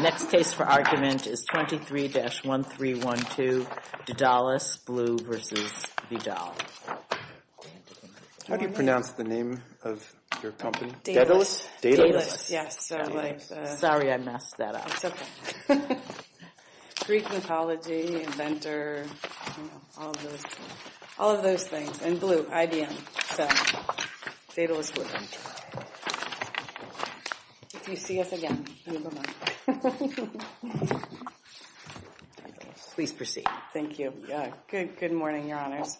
Next case for argument is 23-1312 Daedalus Blue v. Vidal. How do you pronounce the name of your company? Daedalus. Daedalus. Yes. Sorry I messed that up. That's okay. Greek mythology, inventor, all of those things. And Blue, IBM. So, Daedalus Blue. If you see us again, leave a message. Please proceed. Thank you. Good morning, your honors.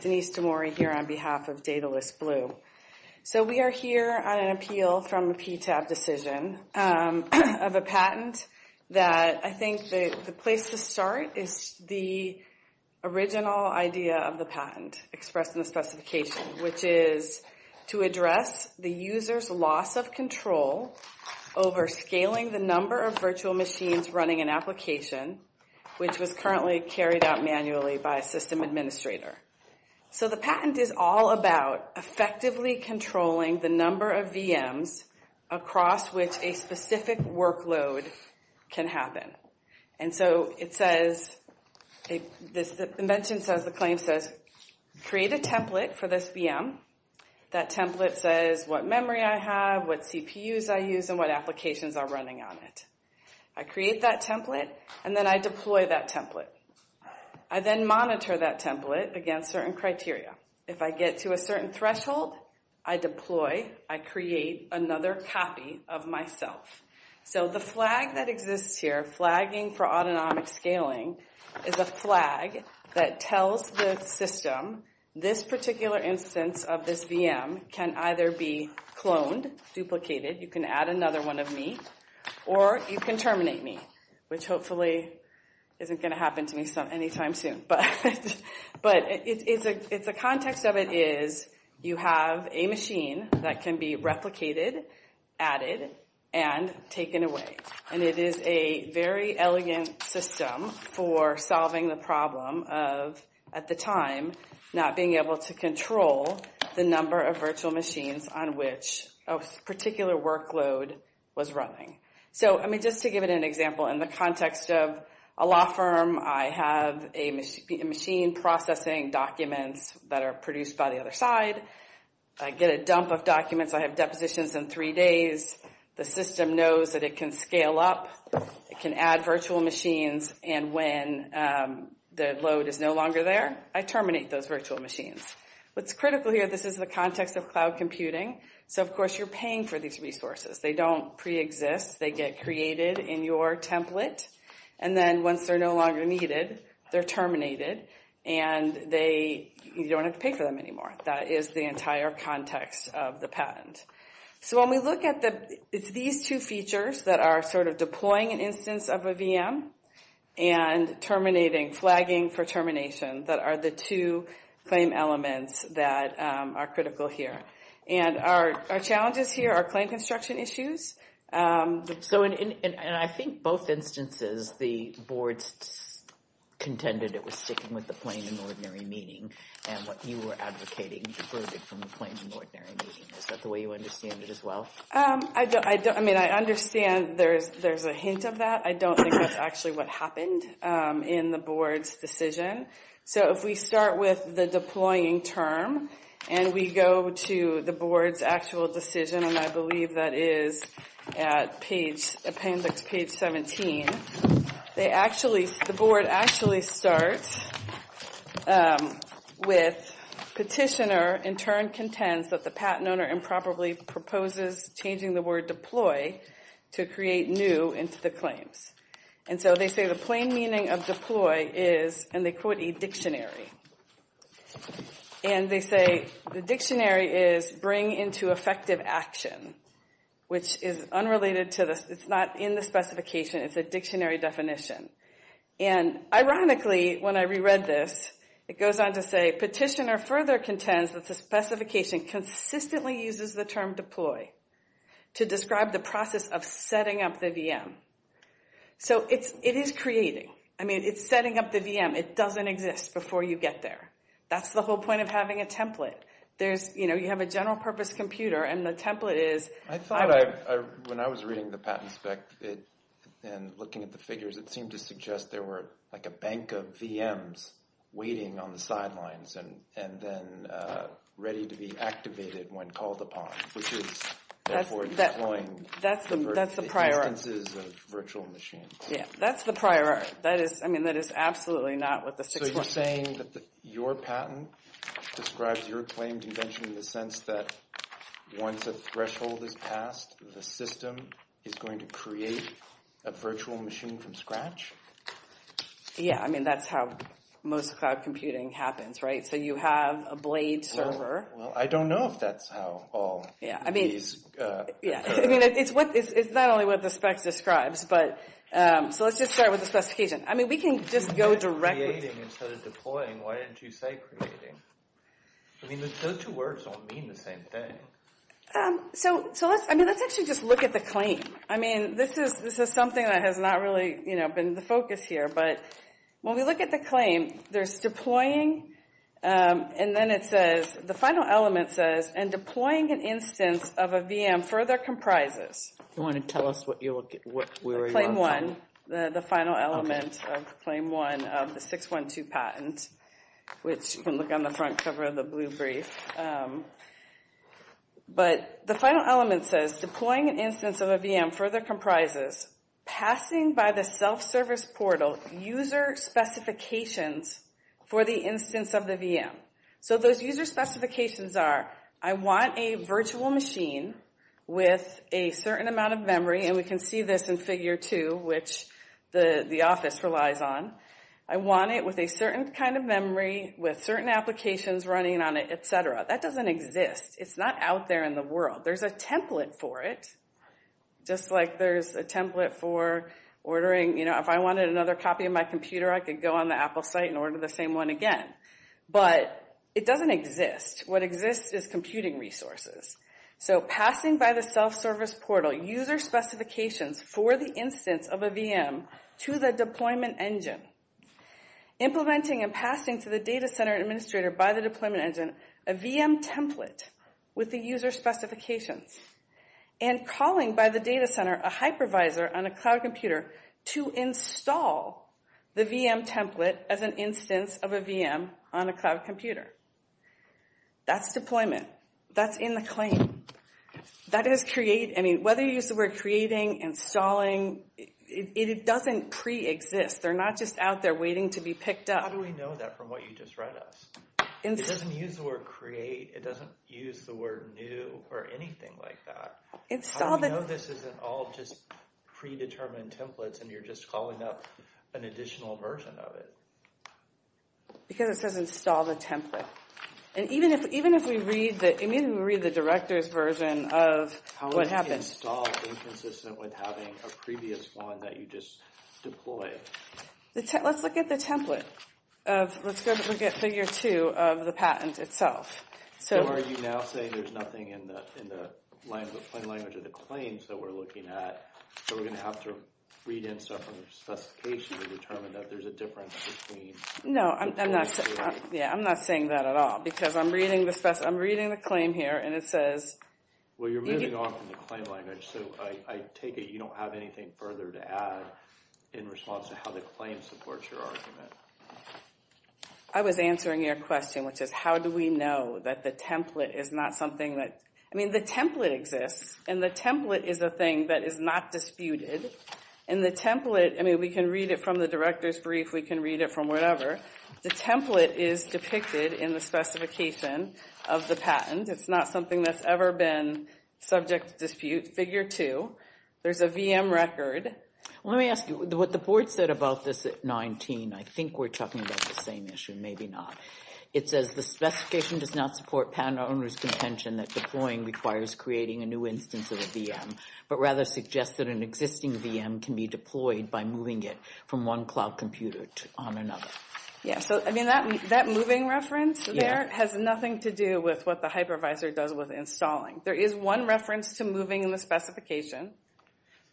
Denise DeMori here on behalf of Daedalus Blue. So we are here on an appeal from a PTAB decision of a patent that I think the place to start is the original idea of the patent expressed in the specification, which is to address the user's loss of control over scaling the number of virtual machines running an application, which was currently carried out manually by a system administrator. So the patent is all about effectively controlling the number of VMs across which a specific workload can happen. And so it says, the invention says, the claim says, create a template for this VM. That template says what memory I have, what CPUs I use, and what applications are running on it. I create that template, and then I deploy that template. I then monitor that template against certain criteria. If I get to a certain threshold, I deploy, I create another copy of myself. So the flag that exists here, flagging for autonomic scaling, is a flag that tells the system this particular instance of this VM can either be cloned, duplicated, you can add another one of me, or you can terminate me, which hopefully isn't going to happen to me anytime soon. But the context of it is, you have a machine that can be replicated, added, and taken away. And it is a very elegant system for solving the problem of, at the time, not being able to control the number of virtual machines on which a particular workload was running. So, I mean, just to give it an example, in the context of a law firm, I have a machine processing documents that are produced by the other side. I get a dump of documents. I have depositions in three days. The system knows that it can scale up. It can add virtual machines. And when the load is no longer there, I terminate those virtual machines. What's critical here, this is the context of cloud computing. So, of course, you're paying for these resources. They don't pre-exist. They get created in your template. And then once they're no longer needed, they're terminated. And you don't have to pay for them anymore. That is the entire context of the patent. So when we look at the, it's these two features that are sort of deploying an instance of a VM, and terminating, flagging for termination, that are the two claim elements that are critical here. And our challenges here are claim construction issues. So, and I think both instances, the boards contended it was sticking with the plain and ordinary meaning. And what you were advocating diverged from the plain and ordinary meaning. Is that the way you understand it as well? I don't, I mean, I understand there's a hint of that. I don't think that's actually what happened in the board's decision. So if we start with the deploying term, and we go to the board's actual decision, and I believe that is at page, appendix page 17, they actually, the board actually starts with petitioner, in turn contends that the patent owner improperly proposes changing the word deploy to create new into the claims. And so they say the plain meaning of deploy is, and they quote a dictionary. And they say the dictionary is bring into effective action, which is unrelated to the, it's not in the specification, it's a dictionary definition. And ironically, when I reread this, it goes on to say, petitioner further contends that the specification consistently uses the term deploy to describe the process of setting up the VM. So it is creating. I mean, it's setting up the VM. It doesn't exist before you get there. That's the whole point of having a template. There's, you know, you have a general purpose computer, and the template is. I thought when I was reading the patent spec, and looking at the figures, it seemed to suggest there were like a bank of VMs waiting on the sidelines, and then ready to be activated when called upon, which is, therefore, deploying. That's the prior art. Instances of virtual machines. Yeah, that's the prior art. That is, I mean, that is absolutely not what the six months. So you're saying that your patent describes your claimed invention in the sense that once a threshold is passed, the system is going to create a virtual machine from scratch? Yeah, I mean, that's how most cloud computing happens, right? So you have a blade server. Well, I don't know if that's how all these. Yeah, I mean, it's not only what the specs describes. So let's just start with the specification. I mean, we can just go directly. Creating instead of deploying, why didn't you say creating? I mean, those two words don't mean the same thing. So let's actually just look at the claim. I mean, this is something that has not really been the focus here. But when we look at the claim, there's deploying, and then it says, the final element says, and deploying an instance of a VM further comprises. Do you want to tell us where you are from? Claim one, the final element of claim one of the 612 patent, which you can look on the front cover of the blue brief. But the final element says, deploying an instance of a VM further comprises, passing by the self-service portal user specifications for the instance of the VM. So those user specifications are, I want a virtual machine with a certain amount of memory, and we can see this in figure two, which the office relies on. I want it with a certain kind of memory, with certain applications running on it, et cetera. That doesn't exist. It's not out there in the world. There's a template for it, just like there's a template for ordering. If I wanted another copy of my computer, I could go on the Apple site and order the same one again. But it doesn't exist. What exists is computing resources. So passing by the self-service portal user specifications for the instance of a VM to the deployment engine, implementing and passing to the data center administrator by the deployment engine a VM template with the user specifications, and calling by the data center a hypervisor on a cloud computer to install the VM template as an instance of a VM on a cloud computer. That's deployment. That's in the claim. That is create. I mean, whether you use the word creating, installing, it doesn't pre-exist. They're not just out there waiting to be picked up. How do we know that from what you just read us? It doesn't use the word create. It doesn't use the word new or anything like that. How do we know this isn't all just predetermined templates, and you're just calling up an additional version of it? Because it says install the template. And even if we read the director's version of what happened. How would you install inconsistent with having a previous one that you just deployed? Let's look at the template. Let's go look at figure two of the patent itself. So are you now saying there's nothing in the plain language of the claims that we're looking at, so we're going to have to read in separate specifications to determine that there's a difference between the two? No, I'm not saying that at all, because I'm reading the claim here, and it says. Well, you're moving on from the claim language. So I take it you don't have anything further to add in response to how the claim supports your argument. I was answering your question, which is how do we know that the template is not something that... I mean, the template exists, and the template is a thing that is not disputed. And the template, I mean, we can read it from the director's brief. We can read it from whatever. The template is depicted in the specification of the patent. It's not something that's ever been subject to dispute. Figure two, there's a VM record. Let me ask you, what the board said about this at 19, I think we're talking about the same issue. Maybe not. It says the specification does not support patent owner's contention that deploying requires creating a new instance of a VM, but rather suggests that an existing VM can be deployed by moving it from one cloud computer on another. Yeah, so, I mean, that moving reference there has nothing to do with what the hypervisor does with installing. There is one reference to moving in the specification,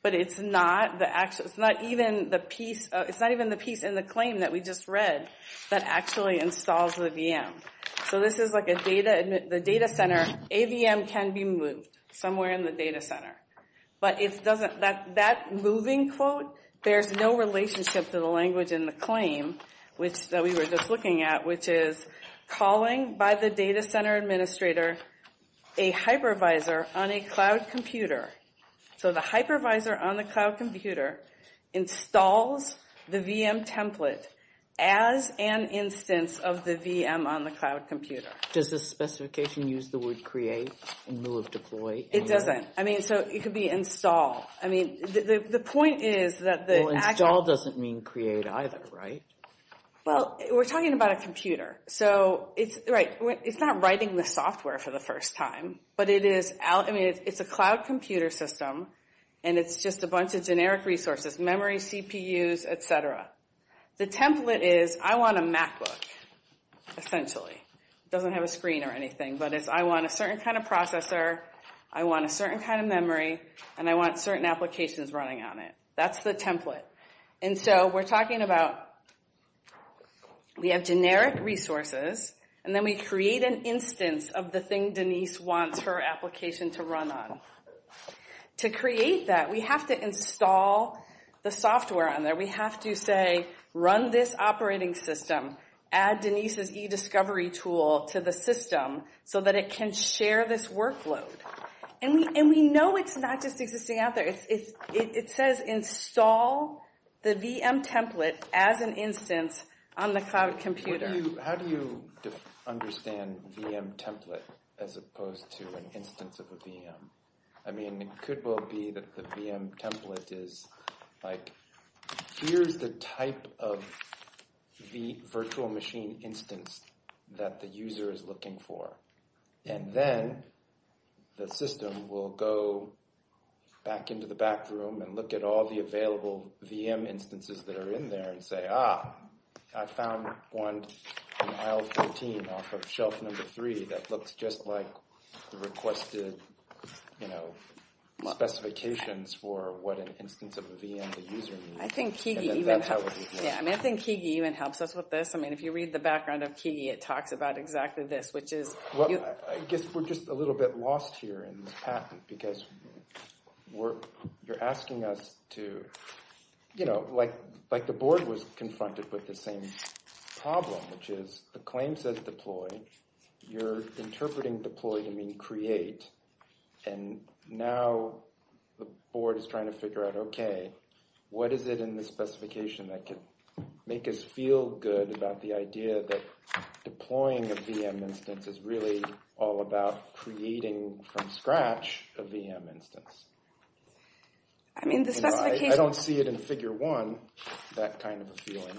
but it's not even the piece in the claim that we just read that actually installs the VM. So this is like the data center, a VM can be moved somewhere in the data center. But that moving quote, there's no relationship to the language in the claim that we were just looking at, which is calling by the data center administrator a hypervisor on a cloud computer. So the hypervisor on the cloud computer installs the VM template as an instance of the VM on the cloud computer. Does the specification use the word create in lieu of deploy? It doesn't. I mean, so it could be install. I mean, the point is that the actual – Well, install doesn't mean create either, right? Well, we're talking about a computer. So it's, right, it's not writing the software for the first time, but it is – I mean, it's a cloud computer system, and it's just a bunch of generic resources, memory, CPUs, et cetera. The template is I want a MacBook, essentially. It doesn't have a screen or anything, but it's I want a certain kind of processor, I want a certain kind of memory, and I want certain applications running on it. That's the template. And so we're talking about we have generic resources, and then we create an instance of the thing Denise wants her application to run on. To create that, we have to install the software on there. We have to say run this operating system, add Denise's eDiscovery tool to the system so that it can share this workload. And we know it's not just existing out there. It says install the VM template as an instance on the cloud computer. How do you understand VM template as opposed to an instance of a VM? I mean, it could well be that the VM template is, like, here's the type of virtual machine instance that the user is looking for, and then the system will go back into the back room and look at all the available VM instances that are in there and say, ah, I found one in aisle 14 off of shelf number 3 that looks just like the requested, you know, specifications for what an instance of a VM the user needs. I think Kigi even helps us with this. I mean, if you read the background of Kigi, it talks about exactly this, which is you. Well, I guess we're just a little bit lost here in the patent because you're asking us to, you know, like the board was confronted with the same problem, which is the claim says deploy. You're interpreting deploy to mean create. And now the board is trying to figure out, okay, what is it in the specification that could make us feel good about the idea that deploying a VM instance is really all about creating from scratch a VM instance? I mean, the specification. I don't see it in figure one, that kind of a feeling.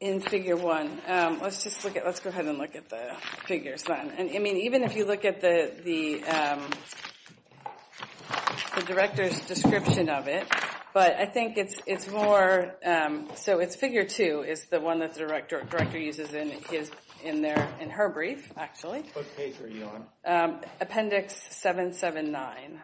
In figure one. Let's just look at, let's go ahead and look at the figures then. And, I mean, even if you look at the director's description of it, but I think it's more, so it's figure two is the one that the director uses in her brief, actually. What page are you on? Appendix 779.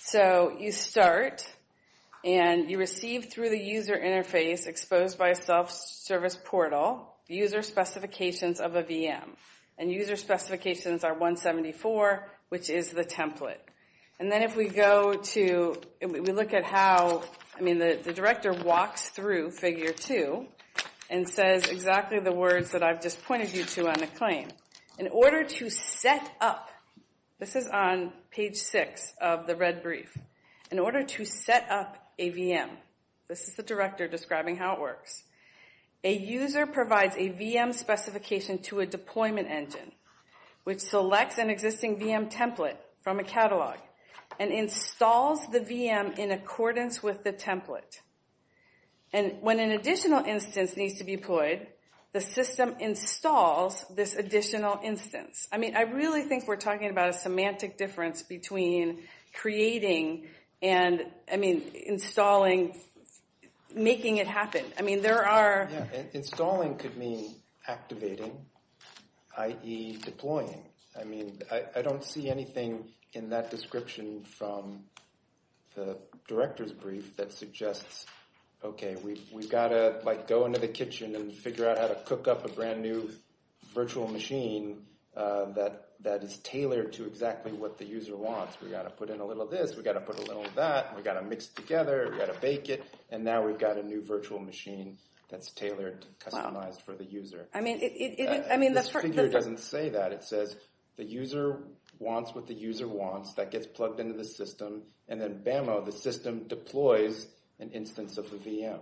So you start and you receive through the user interface exposed by a self-service portal user specifications of a VM. And user specifications are 174, which is the template. And then if we go to, we look at how, I mean, the director walks through figure two and says exactly the words that I've just pointed you to on the claim. In order to set up, this is on page six of the red brief. In order to set up a VM, this is the director describing how it works. A user provides a VM specification to a deployment engine, which selects an existing VM template from a catalog and installs the VM in accordance with the template. And when an additional instance needs to be deployed, the system installs this additional instance. I mean, I really think we're talking about a semantic difference between creating and, I mean, installing, making it happen. I mean, there are. Installing could mean activating, i.e. deploying. I mean, I don't see anything in that description from the director's brief that suggests, OK, we've got to go into the kitchen and figure out how to cook up a brand new virtual machine that is tailored to exactly what the user wants. We've got to put in a little of this. We've got to put a little of that. We've got to mix it together. We've got to bake it. And now we've got a new virtual machine that's tailored, customized for the user. I mean, this figure doesn't say that. It says the user wants what the user wants. That gets plugged into the system. And then BAMO, the system, deploys an instance of the VM.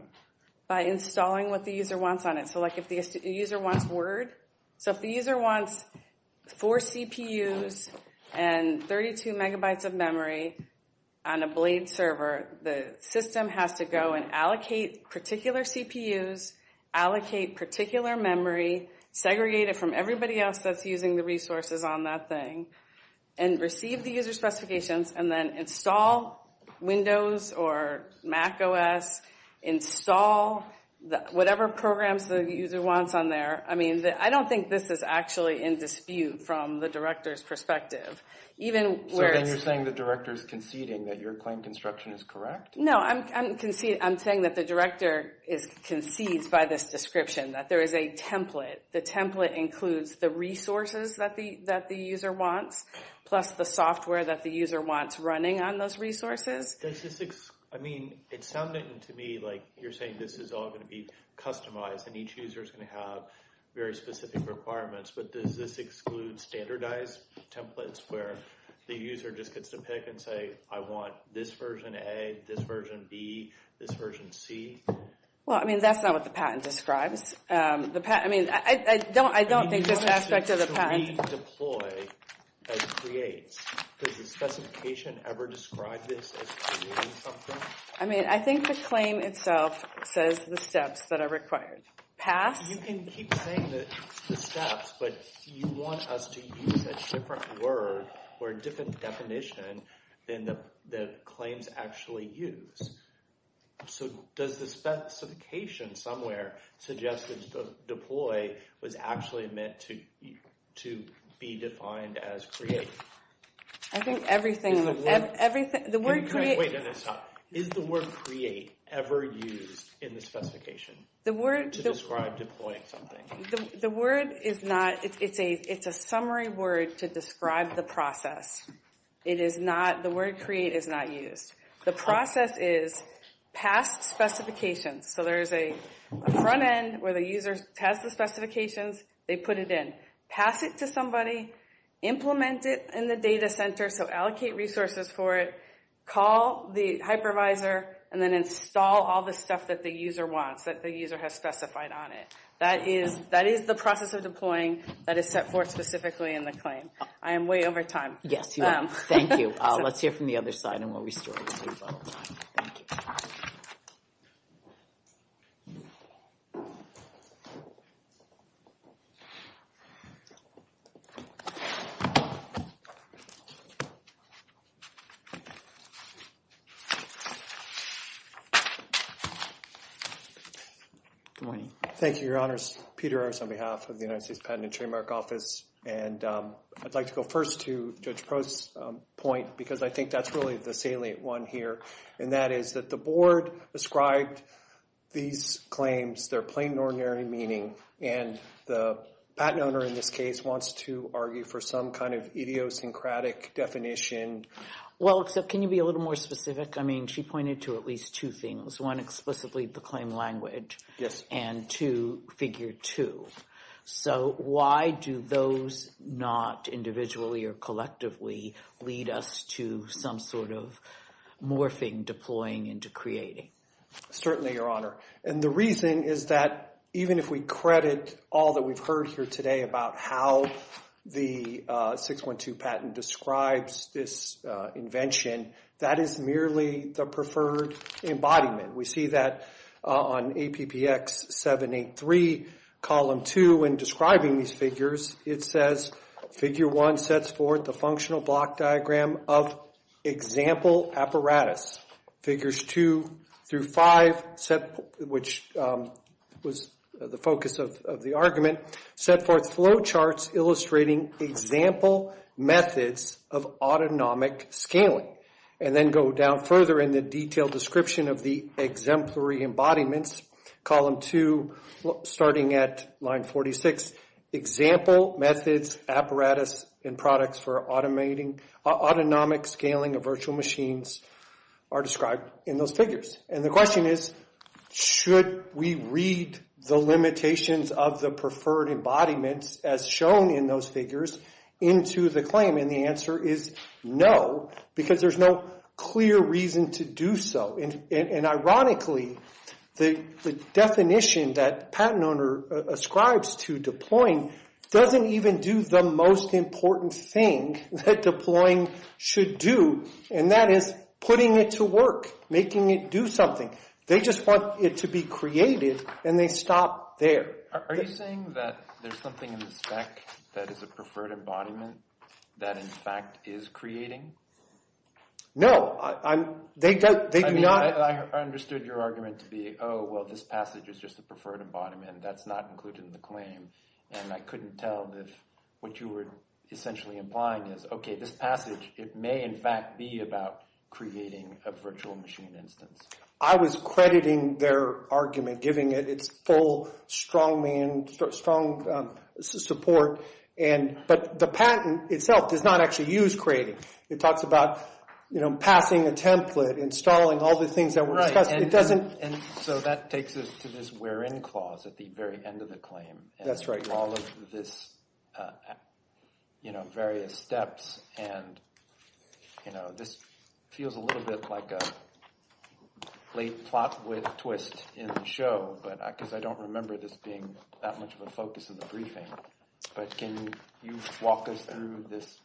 By installing what the user wants on it. So, like, if the user wants Word. So if the user wants four CPUs and 32 megabytes of memory on a Blade server, the system has to go and allocate particular CPUs, allocate particular memory, segregate it from everybody else that's using the resources on that thing, and receive the user specifications, and then install Windows or Mac OS, install whatever programs the user wants on there. I mean, I don't think this is actually in dispute from the director's perspective. So then you're saying the director's conceding that your claim construction is correct? No, I'm saying that the director concedes by this description that there is a template. The template includes the resources that the user wants, plus the software that the user wants running on those resources. I mean, it sounded to me like you're saying this is all going to be customized, and each user is going to have very specific requirements, but does this exclude standardized templates where the user just gets to pick and say, I want this version A, this version B, this version C? Well, I mean, that's not what the patent describes. I mean, I don't think this aspect of the patent. So redeploy as creates. Does the specification ever describe this as creating something? I mean, I think the claim itself says the steps that are required. Pass? You can keep saying the steps, but you want us to use a different word or a different definition than the claims actually use. So does the specification somewhere suggest that deploy was actually meant to be defined as create? I think everything. Wait a minute, stop. Is the word create ever used in the specification to describe deploying something? The word is not. It's a summary word to describe the process. The word create is not used. The process is past specifications. So there's a front end where the user has the specifications, they put it in. Pass it to somebody, implement it in the data center, so allocate resources for it, call the hypervisor, and then install all the stuff that the user wants, that the user has specified on it. That is the process of deploying that is set forth specifically in the claim. I am way over time. Yes, you are. Thank you. Let's hear from the other side and what we saw. Thank you. Thank you, Your Honors. Peter Ers on behalf of the United States Patent and Trademark Office. I'd like to go first to Judge Post's point because I think that's really the salient one here, and that is that the board described these claims, their plain and ordinary meaning, and the patent owner in this case wants to argue for some kind of idiosyncratic definition. Well, except can you be a little more specific? I mean, she pointed to at least two things. One, explicitly the claim language. Yes. And two, figure two. So why do those not individually or collectively lead us to some sort of morphing, deploying into creating? Certainly, Your Honor, and the reason is that even if we credit all that we've heard here today about how the 612 patent describes this invention, that is merely the preferred embodiment. We see that on APPX 783, column two, in describing these figures. It says, figure one sets forth the functional block diagram of example apparatus. Figures two through five, which was the focus of the argument, set forth flow charts illustrating example methods of autonomic scaling. And then go down further in the detailed description of the exemplary embodiments, column two, starting at line 46. Example methods, apparatus, and products for automating, autonomic scaling of virtual machines are described in those figures. And the question is, should we read the limitations of the preferred embodiments as shown in those figures into the claim? And the answer is no, because there's no clear reason to do so. And ironically, the definition that patent owner ascribes to deploying doesn't even do the most important thing that deploying should do, and that is putting it to work, making it do something. They just want it to be created, and they stop there. Are you saying that there's something in the spec that is a preferred embodiment that in fact is creating? No. I mean, I understood your argument to be, oh, well, this passage is just a preferred embodiment. That's not included in the claim. And I couldn't tell if what you were essentially implying is, okay, this passage, it may in fact be about creating a virtual machine instance. I was crediting their argument, giving it its full, strong support. But the patent itself does not actually use creating. It talks about passing a template, installing all the things that were discussed. Right, and so that takes us to this where-in clause at the very end of the claim. That's right. of this various steps, and this feels a little bit like a late plot with a twist in the show because I don't remember this being that much of a focus in the briefing. But can you walk us through this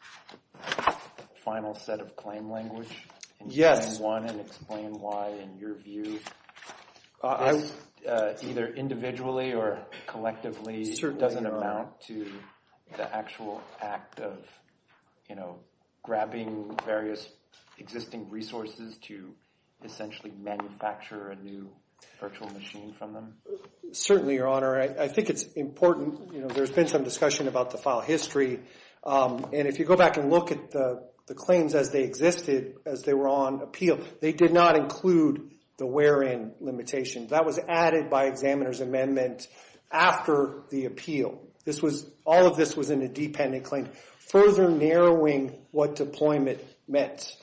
final set of claim language? Yes. And explain why in your view this either individually or collectively- Certainly, Your Honor. doesn't amount to the actual act of grabbing various existing resources to essentially manufacture a new virtual machine from them? Certainly, Your Honor. I think it's important. There's been some discussion about the file history, and if you go back and look at the claims as they existed as they were on appeal, they did not include the where-in limitation. That was added by examiner's amendment after the appeal. All of this was in a dependent claim, further narrowing what deployment meant.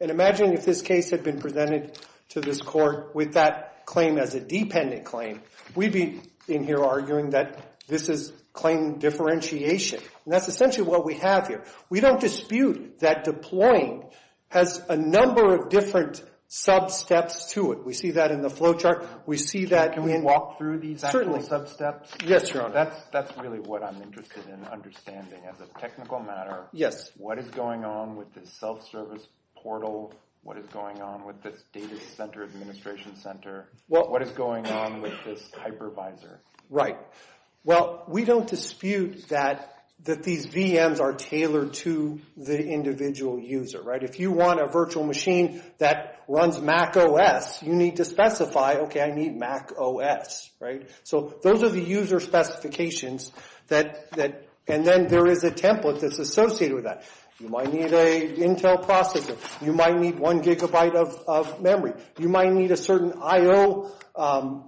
And imagine if this case had been presented to this court with that claim as a dependent claim. We'd be in here arguing that this is claim differentiation, and that's essentially what we have here. We don't dispute that deploying has a number of different sub-steps to it. We see that in the flow chart. We see that in- Can we walk through these actual sub-steps? Certainly. Yes, Your Honor. That's really what I'm interested in understanding as a technical matter. Yes. What is going on with this self-service portal? What is going on with this data center administration center? What is going on with this hypervisor? Right. Well, we don't dispute that these VMs are tailored to the individual user, right? If you want a virtual machine that runs macOS, you need to specify, okay, I need macOS, right? So those are the user specifications, and then there is a template that's associated with that. You might need an Intel processor. You might need one gigabyte of memory. You might need a certain IO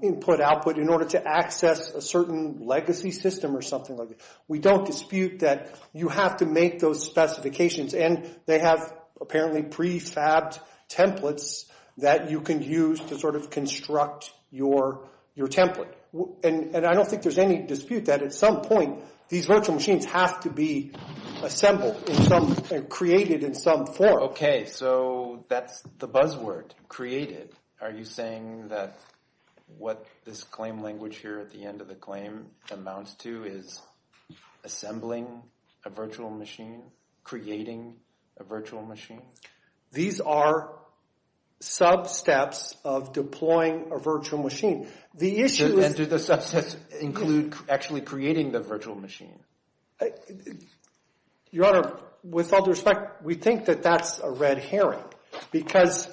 input-output in order to access a certain legacy system or something like that. We don't dispute that you have to make those specifications, and they have apparently prefabbed templates that you can use to sort of construct your template. And I don't think there's any dispute that at some point these virtual machines have to be assembled and created in some form. Okay. So that's the buzzword, created. Are you saying that what this claim language here at the end of the claim amounts to is assembling a virtual machine, creating a virtual machine? These are sub-steps of deploying a virtual machine. And do the sub-steps include actually creating the virtual machine? Your Honor, with all due respect, we think that that's a red herring because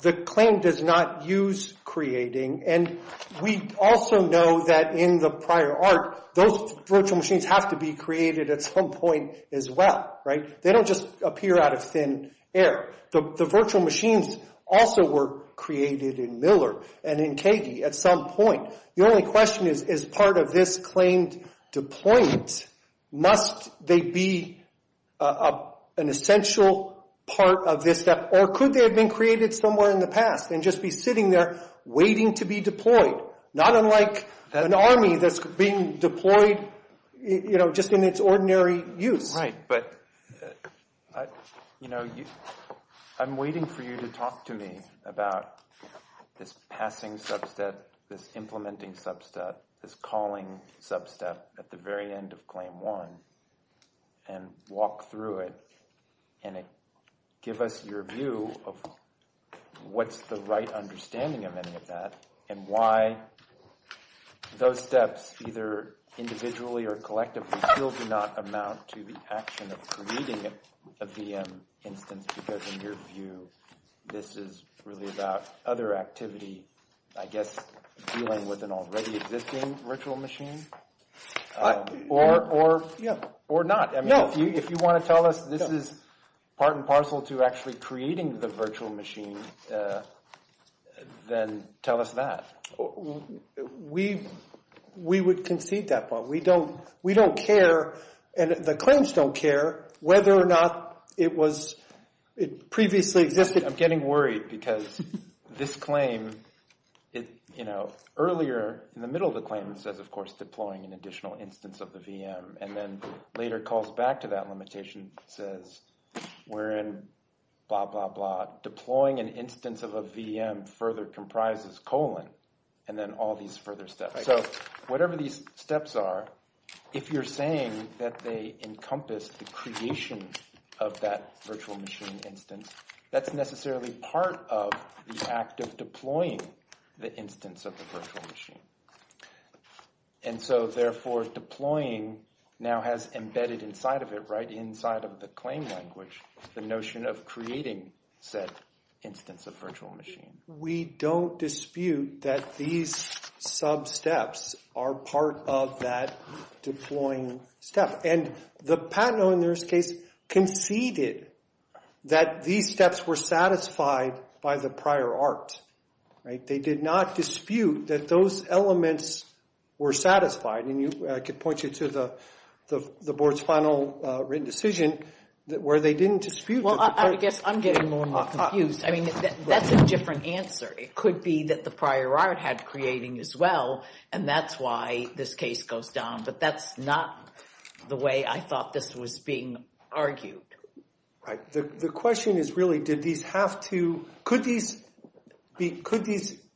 the claim does not use creating, and we also know that in the prior art, those virtual machines have to be created at some point as well, right? They don't just appear out of thin air. The virtual machines also were created in Miller and in KD at some point. Your only question is, is part of this claimed deployment, must they be an essential part of this step, or could they have been created somewhere in the past and just be sitting there waiting to be deployed, not unlike an army that's being deployed, you know, just in its ordinary use? Right, but, you know, I'm waiting for you to talk to me about this passing sub-step, this implementing sub-step, this calling sub-step at the very end of claim one and walk through it and give us your view of what's the right understanding of any of that and why those steps, either individually or collectively, still do not amount to the action of creating a VM instance because in your view, this is really about other activity, I guess, dealing with an already existing virtual machine? Or not. I mean, if you want to tell us this is part and parcel to actually creating the virtual machine, then tell us that. We would concede that, Bob. We don't care, and the claims don't care, whether or not it previously existed. I'm getting worried because this claim, you know, earlier in the middle of the claim, it says, of course, deploying an additional instance of the VM, and then later calls back to that limitation, says we're in blah, blah, blah, deploying an instance of a VM further comprises colon, and then all these further steps. So whatever these steps are, if you're saying that they encompass the creation of that virtual machine instance, that's necessarily part of the act of deploying the instance of the virtual machine. And so, therefore, deploying now has embedded inside of it, right inside of the claim language, the notion of creating said instance of virtual machine. We don't dispute that these sub-steps are part of that deploying step, and the Patent Owners case conceded that these steps were satisfied by the prior art. Right? They did not dispute that those elements were satisfied, and I could point you to the board's final written decision where they didn't dispute. Well, I guess I'm getting more and more confused. I mean, that's a different answer. It could be that the prior art had creating as well, and that's why this case goes down, but that's not the way I thought this was being argued. Right. The question is really did these have to – could these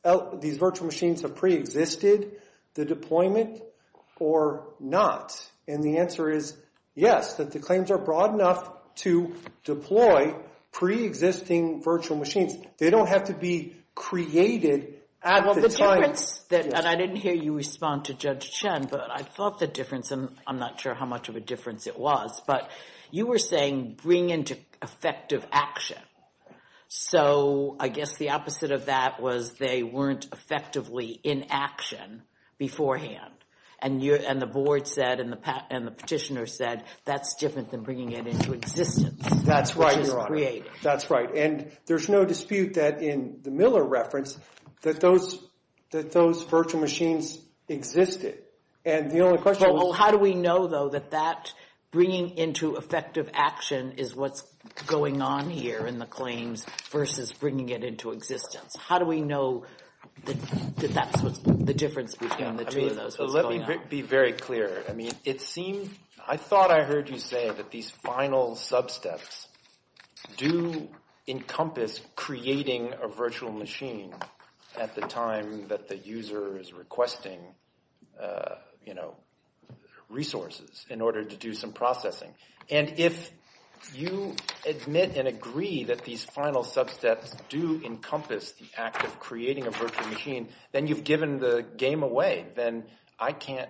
virtual machines have pre-existed the deployment or not? And the answer is yes, that the claims are broad enough to deploy pre-existing virtual machines. They don't have to be created at the time. Well, the difference – and I didn't hear you respond to Judge Chen, but I thought the difference, and I'm not sure how much of a difference it was, but you were saying bring into effective action. So I guess the opposite of that was they weren't effectively in action beforehand, and the board said and the petitioner said that's different than bringing it into existence. That's right, Your Honor. Which is creating. That's right, and there's no dispute that in the Miller reference that those virtual machines existed, and the only question was – Well, how do we know, though, that that bringing into effective action is what's going on here in the claims versus bringing it into existence? How do we know that that's what's – the difference between the two of those was going on? Let me be very clear. I mean, it seemed – I thought I heard you say that these final sub-steps do encompass creating a virtual machine at the time that the user is requesting resources in order to do some processing. And if you admit and agree that these final sub-steps do encompass the act of creating a virtual machine, then you've given the game away. Then I can't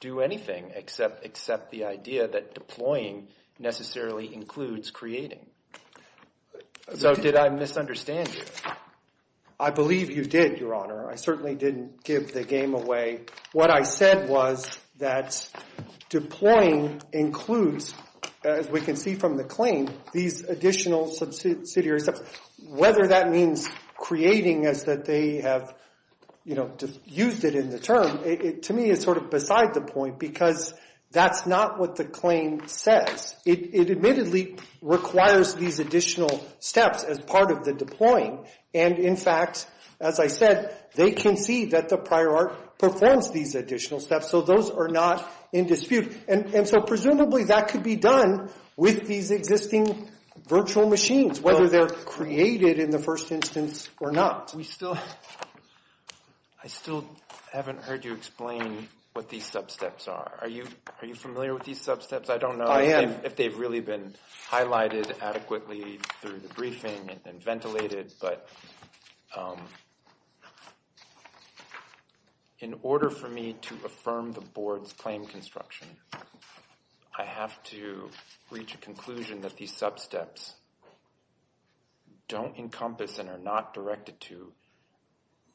do anything except accept the idea that deploying necessarily includes creating. So did I misunderstand you? I believe you did, Your Honor. I certainly didn't give the game away. What I said was that deploying includes, as we can see from the claim, these additional subsidiaries. Whether that means creating as that they have used it in the term, to me it's sort of beside the point because that's not what the claim says. It admittedly requires these additional steps as part of the deploying. And, in fact, as I said, they can see that the prior art performs these additional steps, so those are not in dispute. And so presumably that could be done with these existing virtual machines, whether they're created in the first instance or not. We still – I still haven't heard you explain what these sub-steps are. Are you familiar with these sub-steps? I don't know if they've really been highlighted adequately through the briefing and ventilated, but in order for me to affirm the board's claim construction, I have to reach a conclusion that these sub-steps don't encompass and are not directed to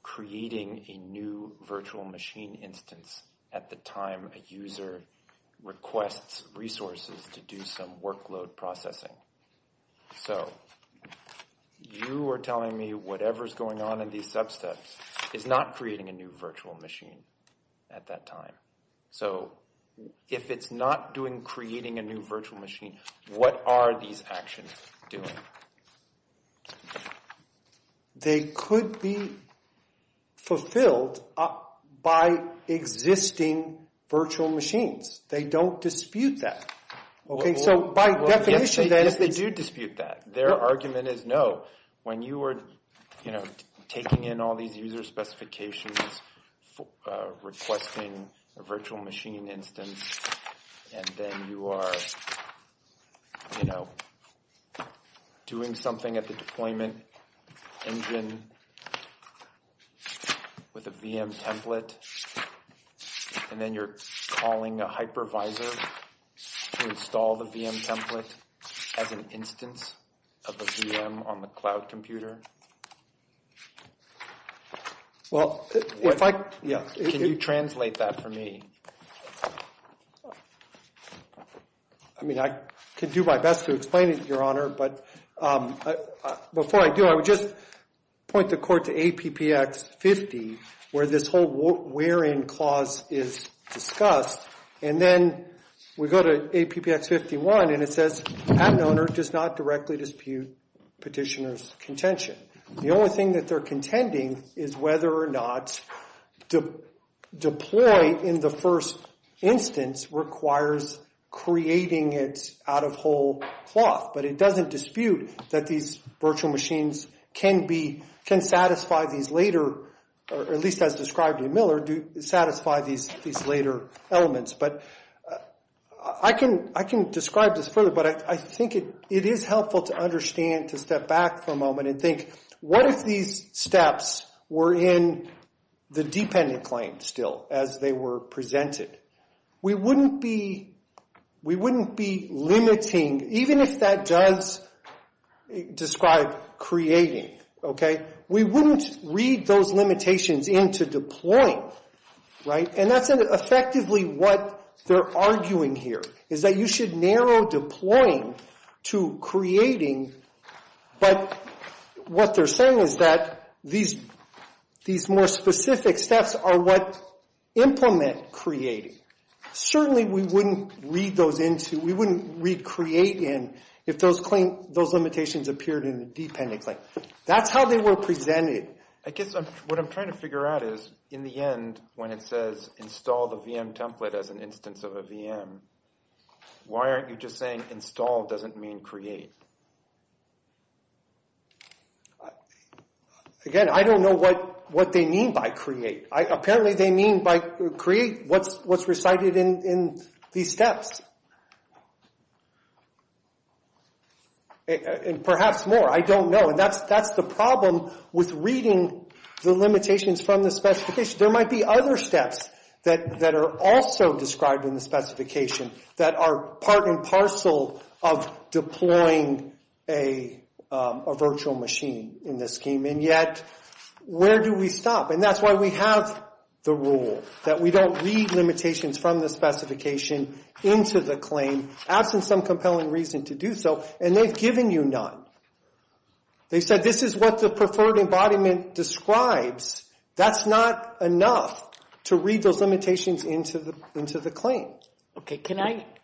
creating a new virtual machine instance at the time a user requests resources to do some workload processing. So you are telling me whatever's going on in these sub-steps is not creating a new virtual machine at that time. So if it's not doing creating a new virtual machine, what are these actions doing? They could be fulfilled by existing virtual machines. They don't dispute that. Okay, so by definition that is – Yes, they do dispute that. Their argument is no. When you are taking in all these user specifications, requesting a virtual machine instance, and then you are, you know, doing something at the deployment engine with a VM template, and then you're calling a hypervisor to install the VM template as an instance of a VM on the cloud computer. Well, if I – Can you translate that for me? I mean, I can do my best to explain it, Your Honor, but before I do, I would just point the court to APPX 50, where this whole where-in clause is discussed, and then we go to APPX 51, and it says, patent owner does not directly dispute petitioner's contention. The only thing that they're contending is whether or not deploy in the first instance requires creating it out of whole cloth, but it doesn't dispute that these virtual machines can satisfy these later, or at least as described in Miller, satisfy these later elements. But I can describe this further, but I think it is helpful to understand, to step back for a moment and think, what if these steps were in the dependent claim still as they were presented? We wouldn't be limiting, even if that does describe creating, okay? We wouldn't read those limitations into deploying, right? And that's effectively what they're arguing here, is that you should narrow deploying to creating, but what they're saying is that these more specific steps are what implement creating. Certainly we wouldn't read those into – we wouldn't read create in if those limitations appeared in the dependent claim. That's how they were presented. I guess what I'm trying to figure out is, in the end, when it says install the VM template as an instance of a VM, why aren't you just saying install doesn't mean create? Again, I don't know what they mean by create. Apparently they mean by create what's recited in these steps. And perhaps more. I don't know. And that's the problem with reading the limitations from the specification. There might be other steps that are also described in the specification that are part and parcel of deploying a virtual machine in this scheme. And yet, where do we stop? And that's why we have the rule that we don't read limitations from the specification into the claim, absent some compelling reason to do so, and they've given you none. They said this is what the preferred embodiment describes. That's not enough to read those limitations into the claim. Okay, can I –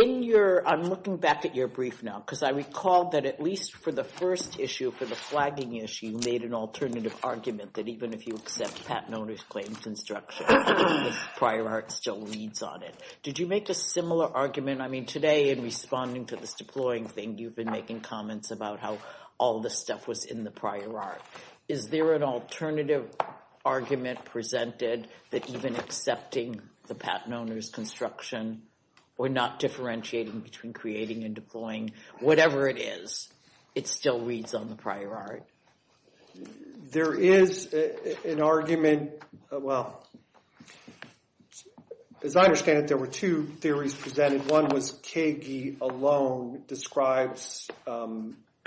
in your – I'm looking back at your brief now, because I recall that at least for the first issue, for the flagging issue, you made an alternative argument that even if you accept patent owner's claims instruction, the prior art still reads on it. Did you make a similar argument – I mean, today, in responding to this deploying thing, you've been making comments about how all this stuff was in the prior art. Is there an alternative argument presented that even accepting the patent owner's construction, or not differentiating between creating and deploying, whatever it is, it still reads on the prior art? There is an argument – well, as I understand it, there were two theories presented. One was Kege alone describes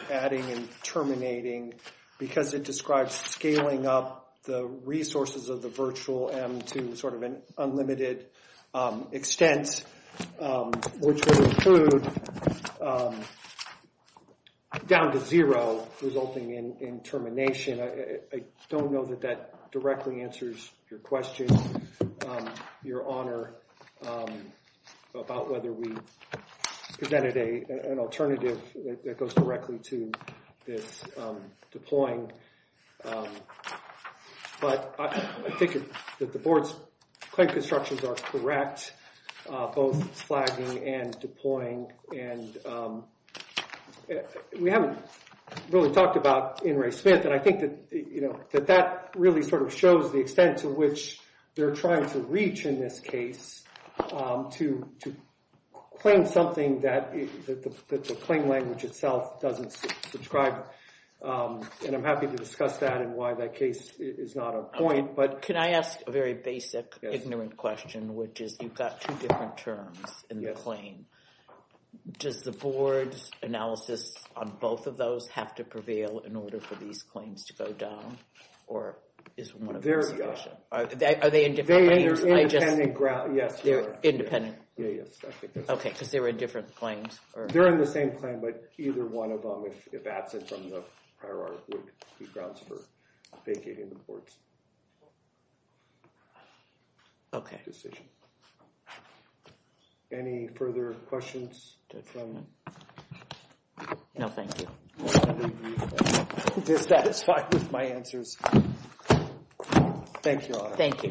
adding and terminating because it describes scaling up the resources of the virtual M to sort of an unlimited extent, which would include down to zero resulting in termination. I don't know that that directly answers your question, your honor, about whether we presented an alternative that goes directly to this deploying. But I think that the board's claim constructions are correct, both flagging and deploying. And we haven't really talked about In re Smith, and I think that that really sort of shows the extent to which they're trying to reach in this case to claim something that the claim language itself doesn't describe. And I'm happy to discuss that and why that case is not a point. Can I ask a very basic, ignorant question, which is you've got two different terms in the claim. Does the board's analysis on both of those have to prevail in order for these claims to go down, or is one of them sufficient? There we go. Are they in different claims? They're independent grounds, yes. They're independent? Yes. Okay, because they were in different claims. They're in the same claim, but either one of them, if absent from the prior art, would be grounds for vacating the board's decision. Okay. Any further questions? No, thank you. I'm dissatisfied with my answers. Thank you, Your Honor. Thank you.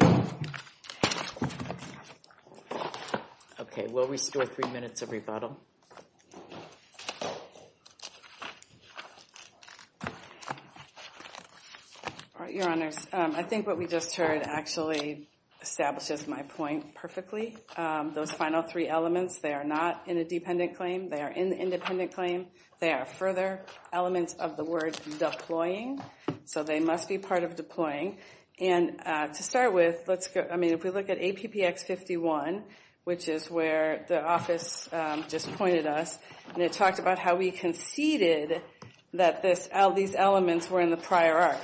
Okay, we'll restore three minutes of rebuttal. Your Honors, I think what we just heard actually establishes my point perfectly. Those final three elements, they are not in a dependent claim. They are in the independent claim. They are further elements of the word deploying, so they must be part of deploying. To start with, if we look at APPX 51, which is where the office just pointed us, and it talked about how we conceded that these elements were in the prior art.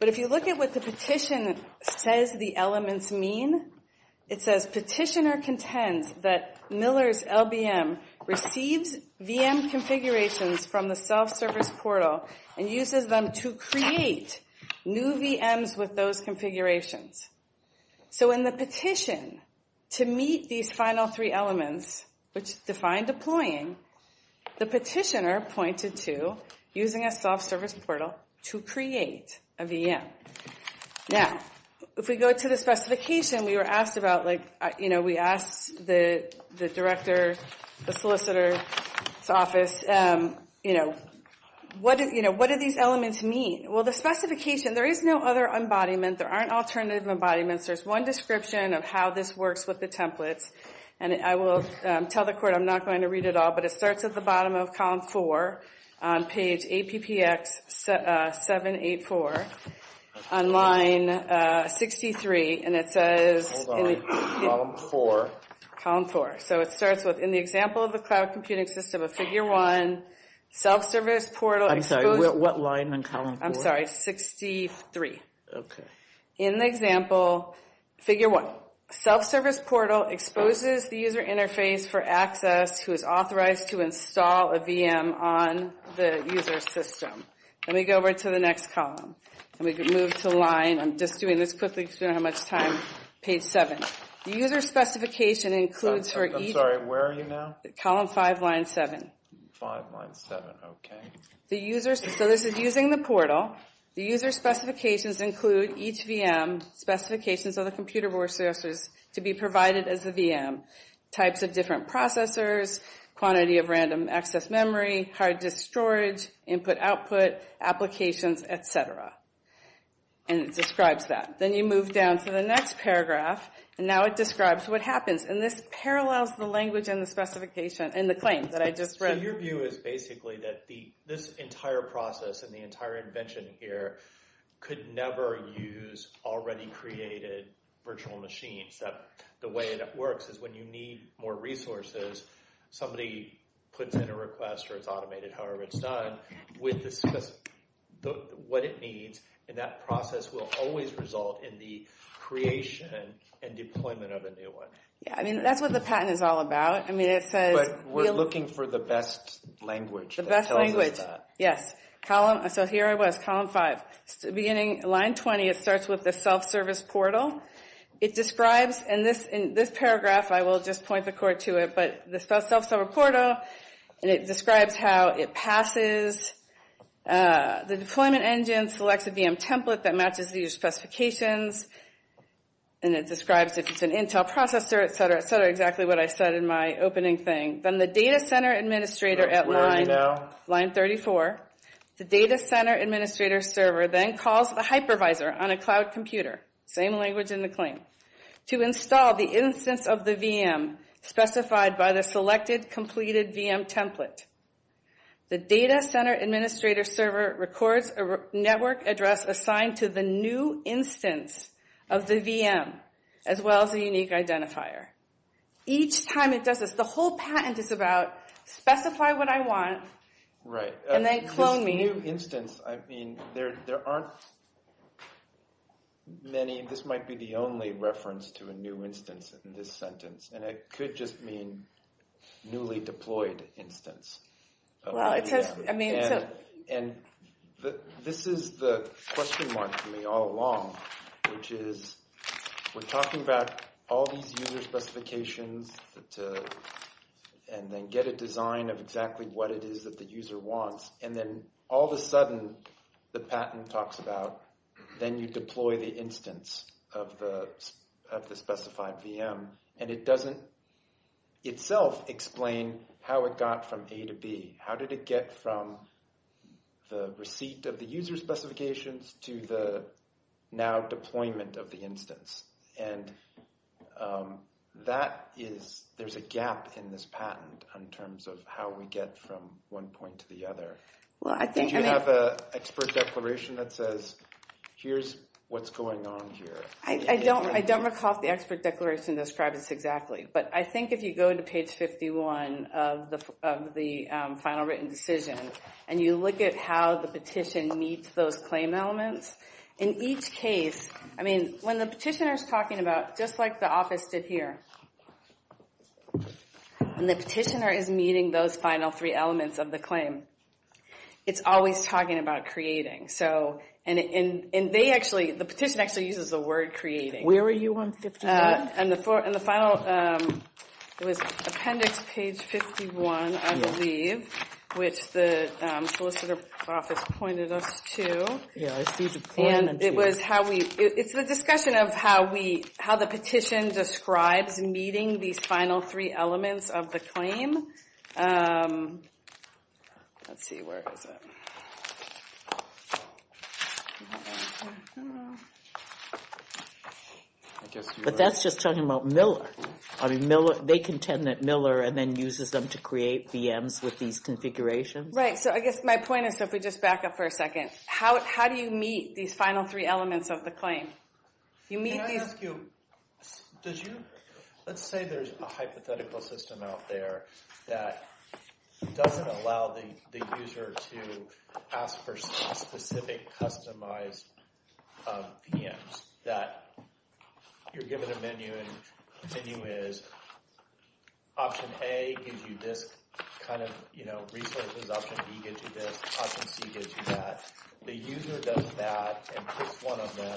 But if you look at what the petition says the elements mean, it says, Petitioner contends that Miller's LBM receives VM configurations from the self-service portal and uses them to create new VMs with those configurations. So in the petition, to meet these final three elements, which define deploying, the petitioner pointed to using a self-service portal to create a VM. Now, if we go to the specification, we were asked about, like, you know, what do these elements mean? Well, the specification, there is no other embodiment. There aren't alternative embodiments. There's one description of how this works with the templates, and I will tell the court I'm not going to read it all, but it starts at the bottom of column four on page APPX 784 on line 63, and it says- Hold on, column four. Column four. So it starts with, in the example of the cloud computing system of figure one, self-service portal- I'm sorry, what line in column four? I'm sorry, 63. Okay. In the example, figure one, self-service portal exposes the user interface for access who is authorized to install a VM on the user system. Let me go over to the next column. Let me move to line-I'm just doing this quickly because we don't have much time-page seven. The user specification includes for each- I'm sorry, where are you now? Column five, line seven. Five, line seven. Okay. So this is using the portal. The user specifications include each VM, specifications of the computer resources to be provided as a VM, types of different processors, quantity of random access memory, hard disk storage, input output, applications, et cetera, and it describes that. Then you move down to the next paragraph, and now it describes what happens. And this parallels the language and the specification and the claim that I just read. So your view is basically that this entire process and the entire invention here could never use already created virtual machines. The way that works is when you need more resources, somebody puts in a request or it's automated, however it's done, with what it needs, and that process will always result in the creation and deployment of a new one. Yeah, I mean, that's what the patent is all about. I mean, it says- But we're looking for the best language that tells us that. The best language, yes. So here I was, column five. Beginning line 20, it starts with the self-service portal. It describes in this paragraph, I will just point the court to it, but the self-service portal, and it describes how it passes. The deployment engine selects a VM template that matches these specifications, and it describes if it's an Intel processor, et cetera, et cetera, exactly what I said in my opening thing. Then the data center administrator at line 34, the data center administrator server then calls the hypervisor on a cloud computer, same language in the claim, to install the instance of the VM specified by the selected completed VM template. The data center administrator server records a network address assigned to the new instance of the VM, as well as a unique identifier. Each time it does this, the whole patent is about specify what I want and then clone me. A new instance, I mean, there aren't many. This might be the only reference to a new instance in this sentence, and it could just mean newly deployed instance. Well, it says, I mean, so. And this is the question mark for me all along, which is we're talking about all these user specifications and then get a design of exactly what it is that the user wants, and then all of a sudden the patent talks about, then you deploy the instance of the specified VM, and it doesn't itself explain how it got from A to B. How did it get from the receipt of the user specifications to the now deployment of the instance? And that is, there's a gap in this patent in terms of how we get from one point to the other. Did you have an expert declaration that says, here's what's going on here? I don't recall if the expert declaration describes this exactly, but I think if you go to page 51 of the final written decision and you look at how the petition meets those claim elements, in each case, I mean, when the petitioner's talking about, just like the office did here, when the petitioner is meeting those final three elements of the claim, it's always talking about creating. And they actually, the petition actually uses the word creating. Where are you on 51? In the final, it was appendix page 51, I believe, which the solicitor's office pointed us to. And it was how we, it's the discussion of how we, how the petition describes meeting these final three elements of the claim. Let's see, where is it? But that's just talking about Miller. I mean, Miller, they contend that Miller then uses them to create VMs with these configurations. Right, so I guess my point is, so if we just back up for a second, how do you meet these final three elements of the claim? Can I ask you, does you, let's say there's a hypothetical system out there that doesn't allow the user to ask for specific customized VMs, that you're given a menu and the menu is option A gives you this kind of resources, option B gives you this, option C gives you that, the user does that and picks one of them,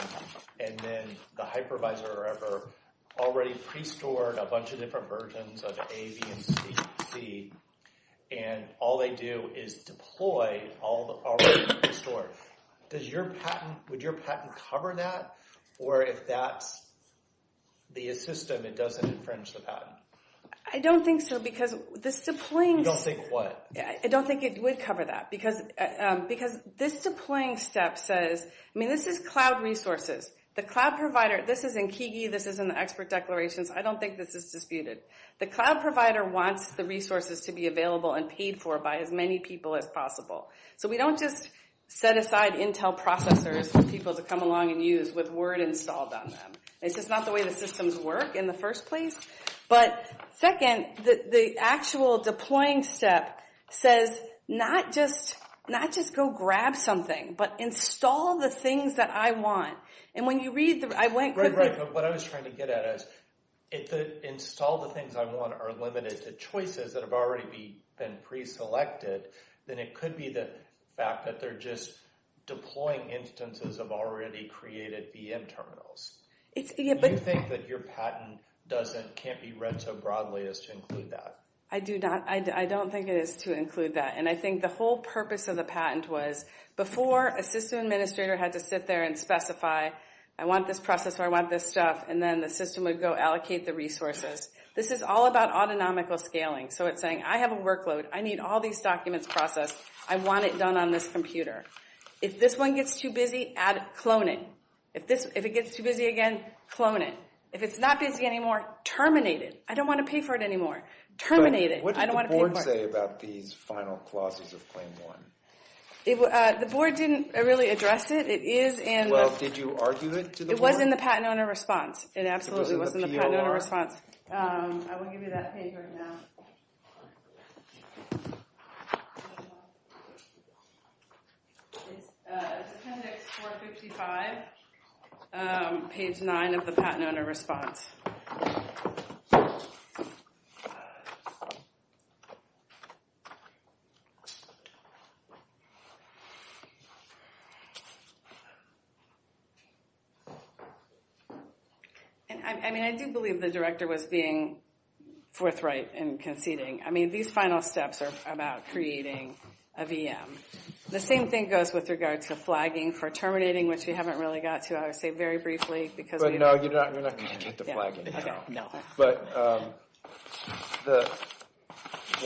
and then the hypervisor or whatever already pre-stored a bunch of different versions of A, B, and C, and all they do is deploy all the already pre-stored. Does your patent, would your patent cover that? Or if that's the system, it doesn't infringe the patent? I don't think so, because this deploying... You don't think what? I don't think it would cover that, because this deploying step says, I mean this is cloud resources. The cloud provider, this is in Kigi, this is in the expert declarations, I don't think this is disputed. The cloud provider wants the resources to be available and paid for by as many people as possible. So we don't just set aside Intel processors for people to come along and use with Word installed on them. It's just not the way the systems work in the first place. But second, the actual deploying step says not just go grab something, but install the things that I want. And when you read the... Right, right. But what I was trying to get at is if the install the things I want are limited to choices that have already been pre-selected, then it could be the fact that they're just deploying instances of already created VM terminals. Do you think that your patent can't be read so broadly as to include that? I don't think it is to include that. And I think the whole purpose of the patent was before a system administrator had to sit there and specify, I want this processor, I want this stuff, and then the system would go allocate the resources. This is all about autonomical scaling. So it's saying, I have a workload, I need all these documents processed, I want it done on this computer. If this one gets too busy, clone it. If it gets too busy again, clone it. If it's not busy anymore, terminate it. I don't want to pay for it anymore. Terminate it. What did the board say about these final clauses of Claim 1? The board didn't really address it. Well, did you argue it to the board? It was in the patent owner response. It absolutely was in the patent owner response. I won't give you that page right now. It's appendix 455, page 9 of the patent owner response. I mean, I do believe the director was being forthright in conceding. I mean, these final steps are about creating a VM. The same thing goes with regards to flagging for terminating, which we haven't really got to, I would say, very briefly. But no, you're not going to get to flagging at all. But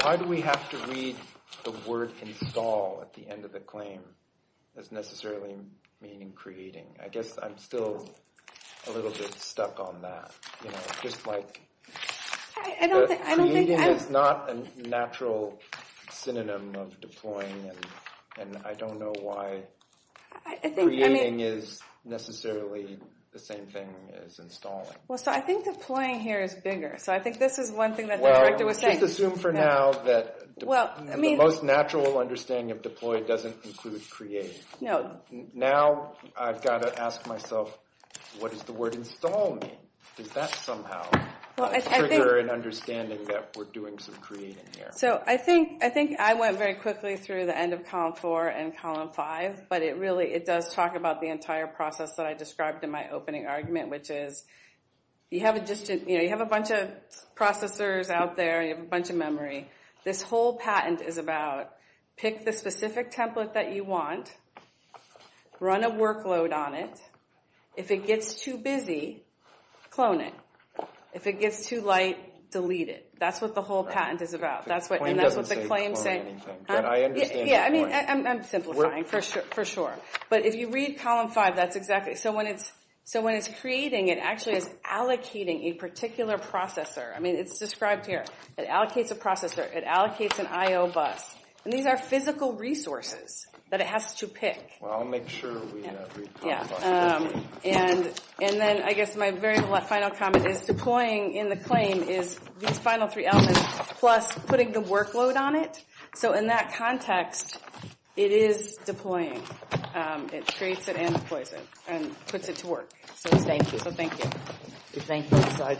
why do we have to read the word install at the end of the claim as necessarily meaning creating? I guess I'm still a little bit stuck on that. Creating is not a natural synonym of deploying, and I don't know why creating is necessarily the same thing as installing. Well, so I think deploying here is bigger. So I think this is one thing that the director was saying. Well, just assume for now that the most natural understanding of deploy doesn't include creating. Now I've got to ask myself, what does the word install mean? Does that somehow trigger an understanding that we're doing some creating here? So I think I went very quickly through the end of column four and column five, but it really does talk about the entire process that I described in my opening argument, which is you have a bunch of processors out there and you have a bunch of memory. This whole patent is about pick the specific template that you want, run a workload on it. If it gets too busy, clone it. If it gets too light, delete it. That's what the whole patent is about. The claim doesn't say clone anything, but I understand the point. I'm simplifying for sure. But if you read column five, that's exactly it. So when it's creating, it actually is allocating a particular processor. I mean, it's described here. It allocates a processor. It allocates an I.O. bus. And these are physical resources that it has to pick. Well, I'll make sure we read column five. Yeah. And then I guess my very final comment is deploying in the claim is these final three elements plus putting the workload on it. So in that context, it is deploying. It creates it and deploys it and puts it to work. So thank you. So thank you.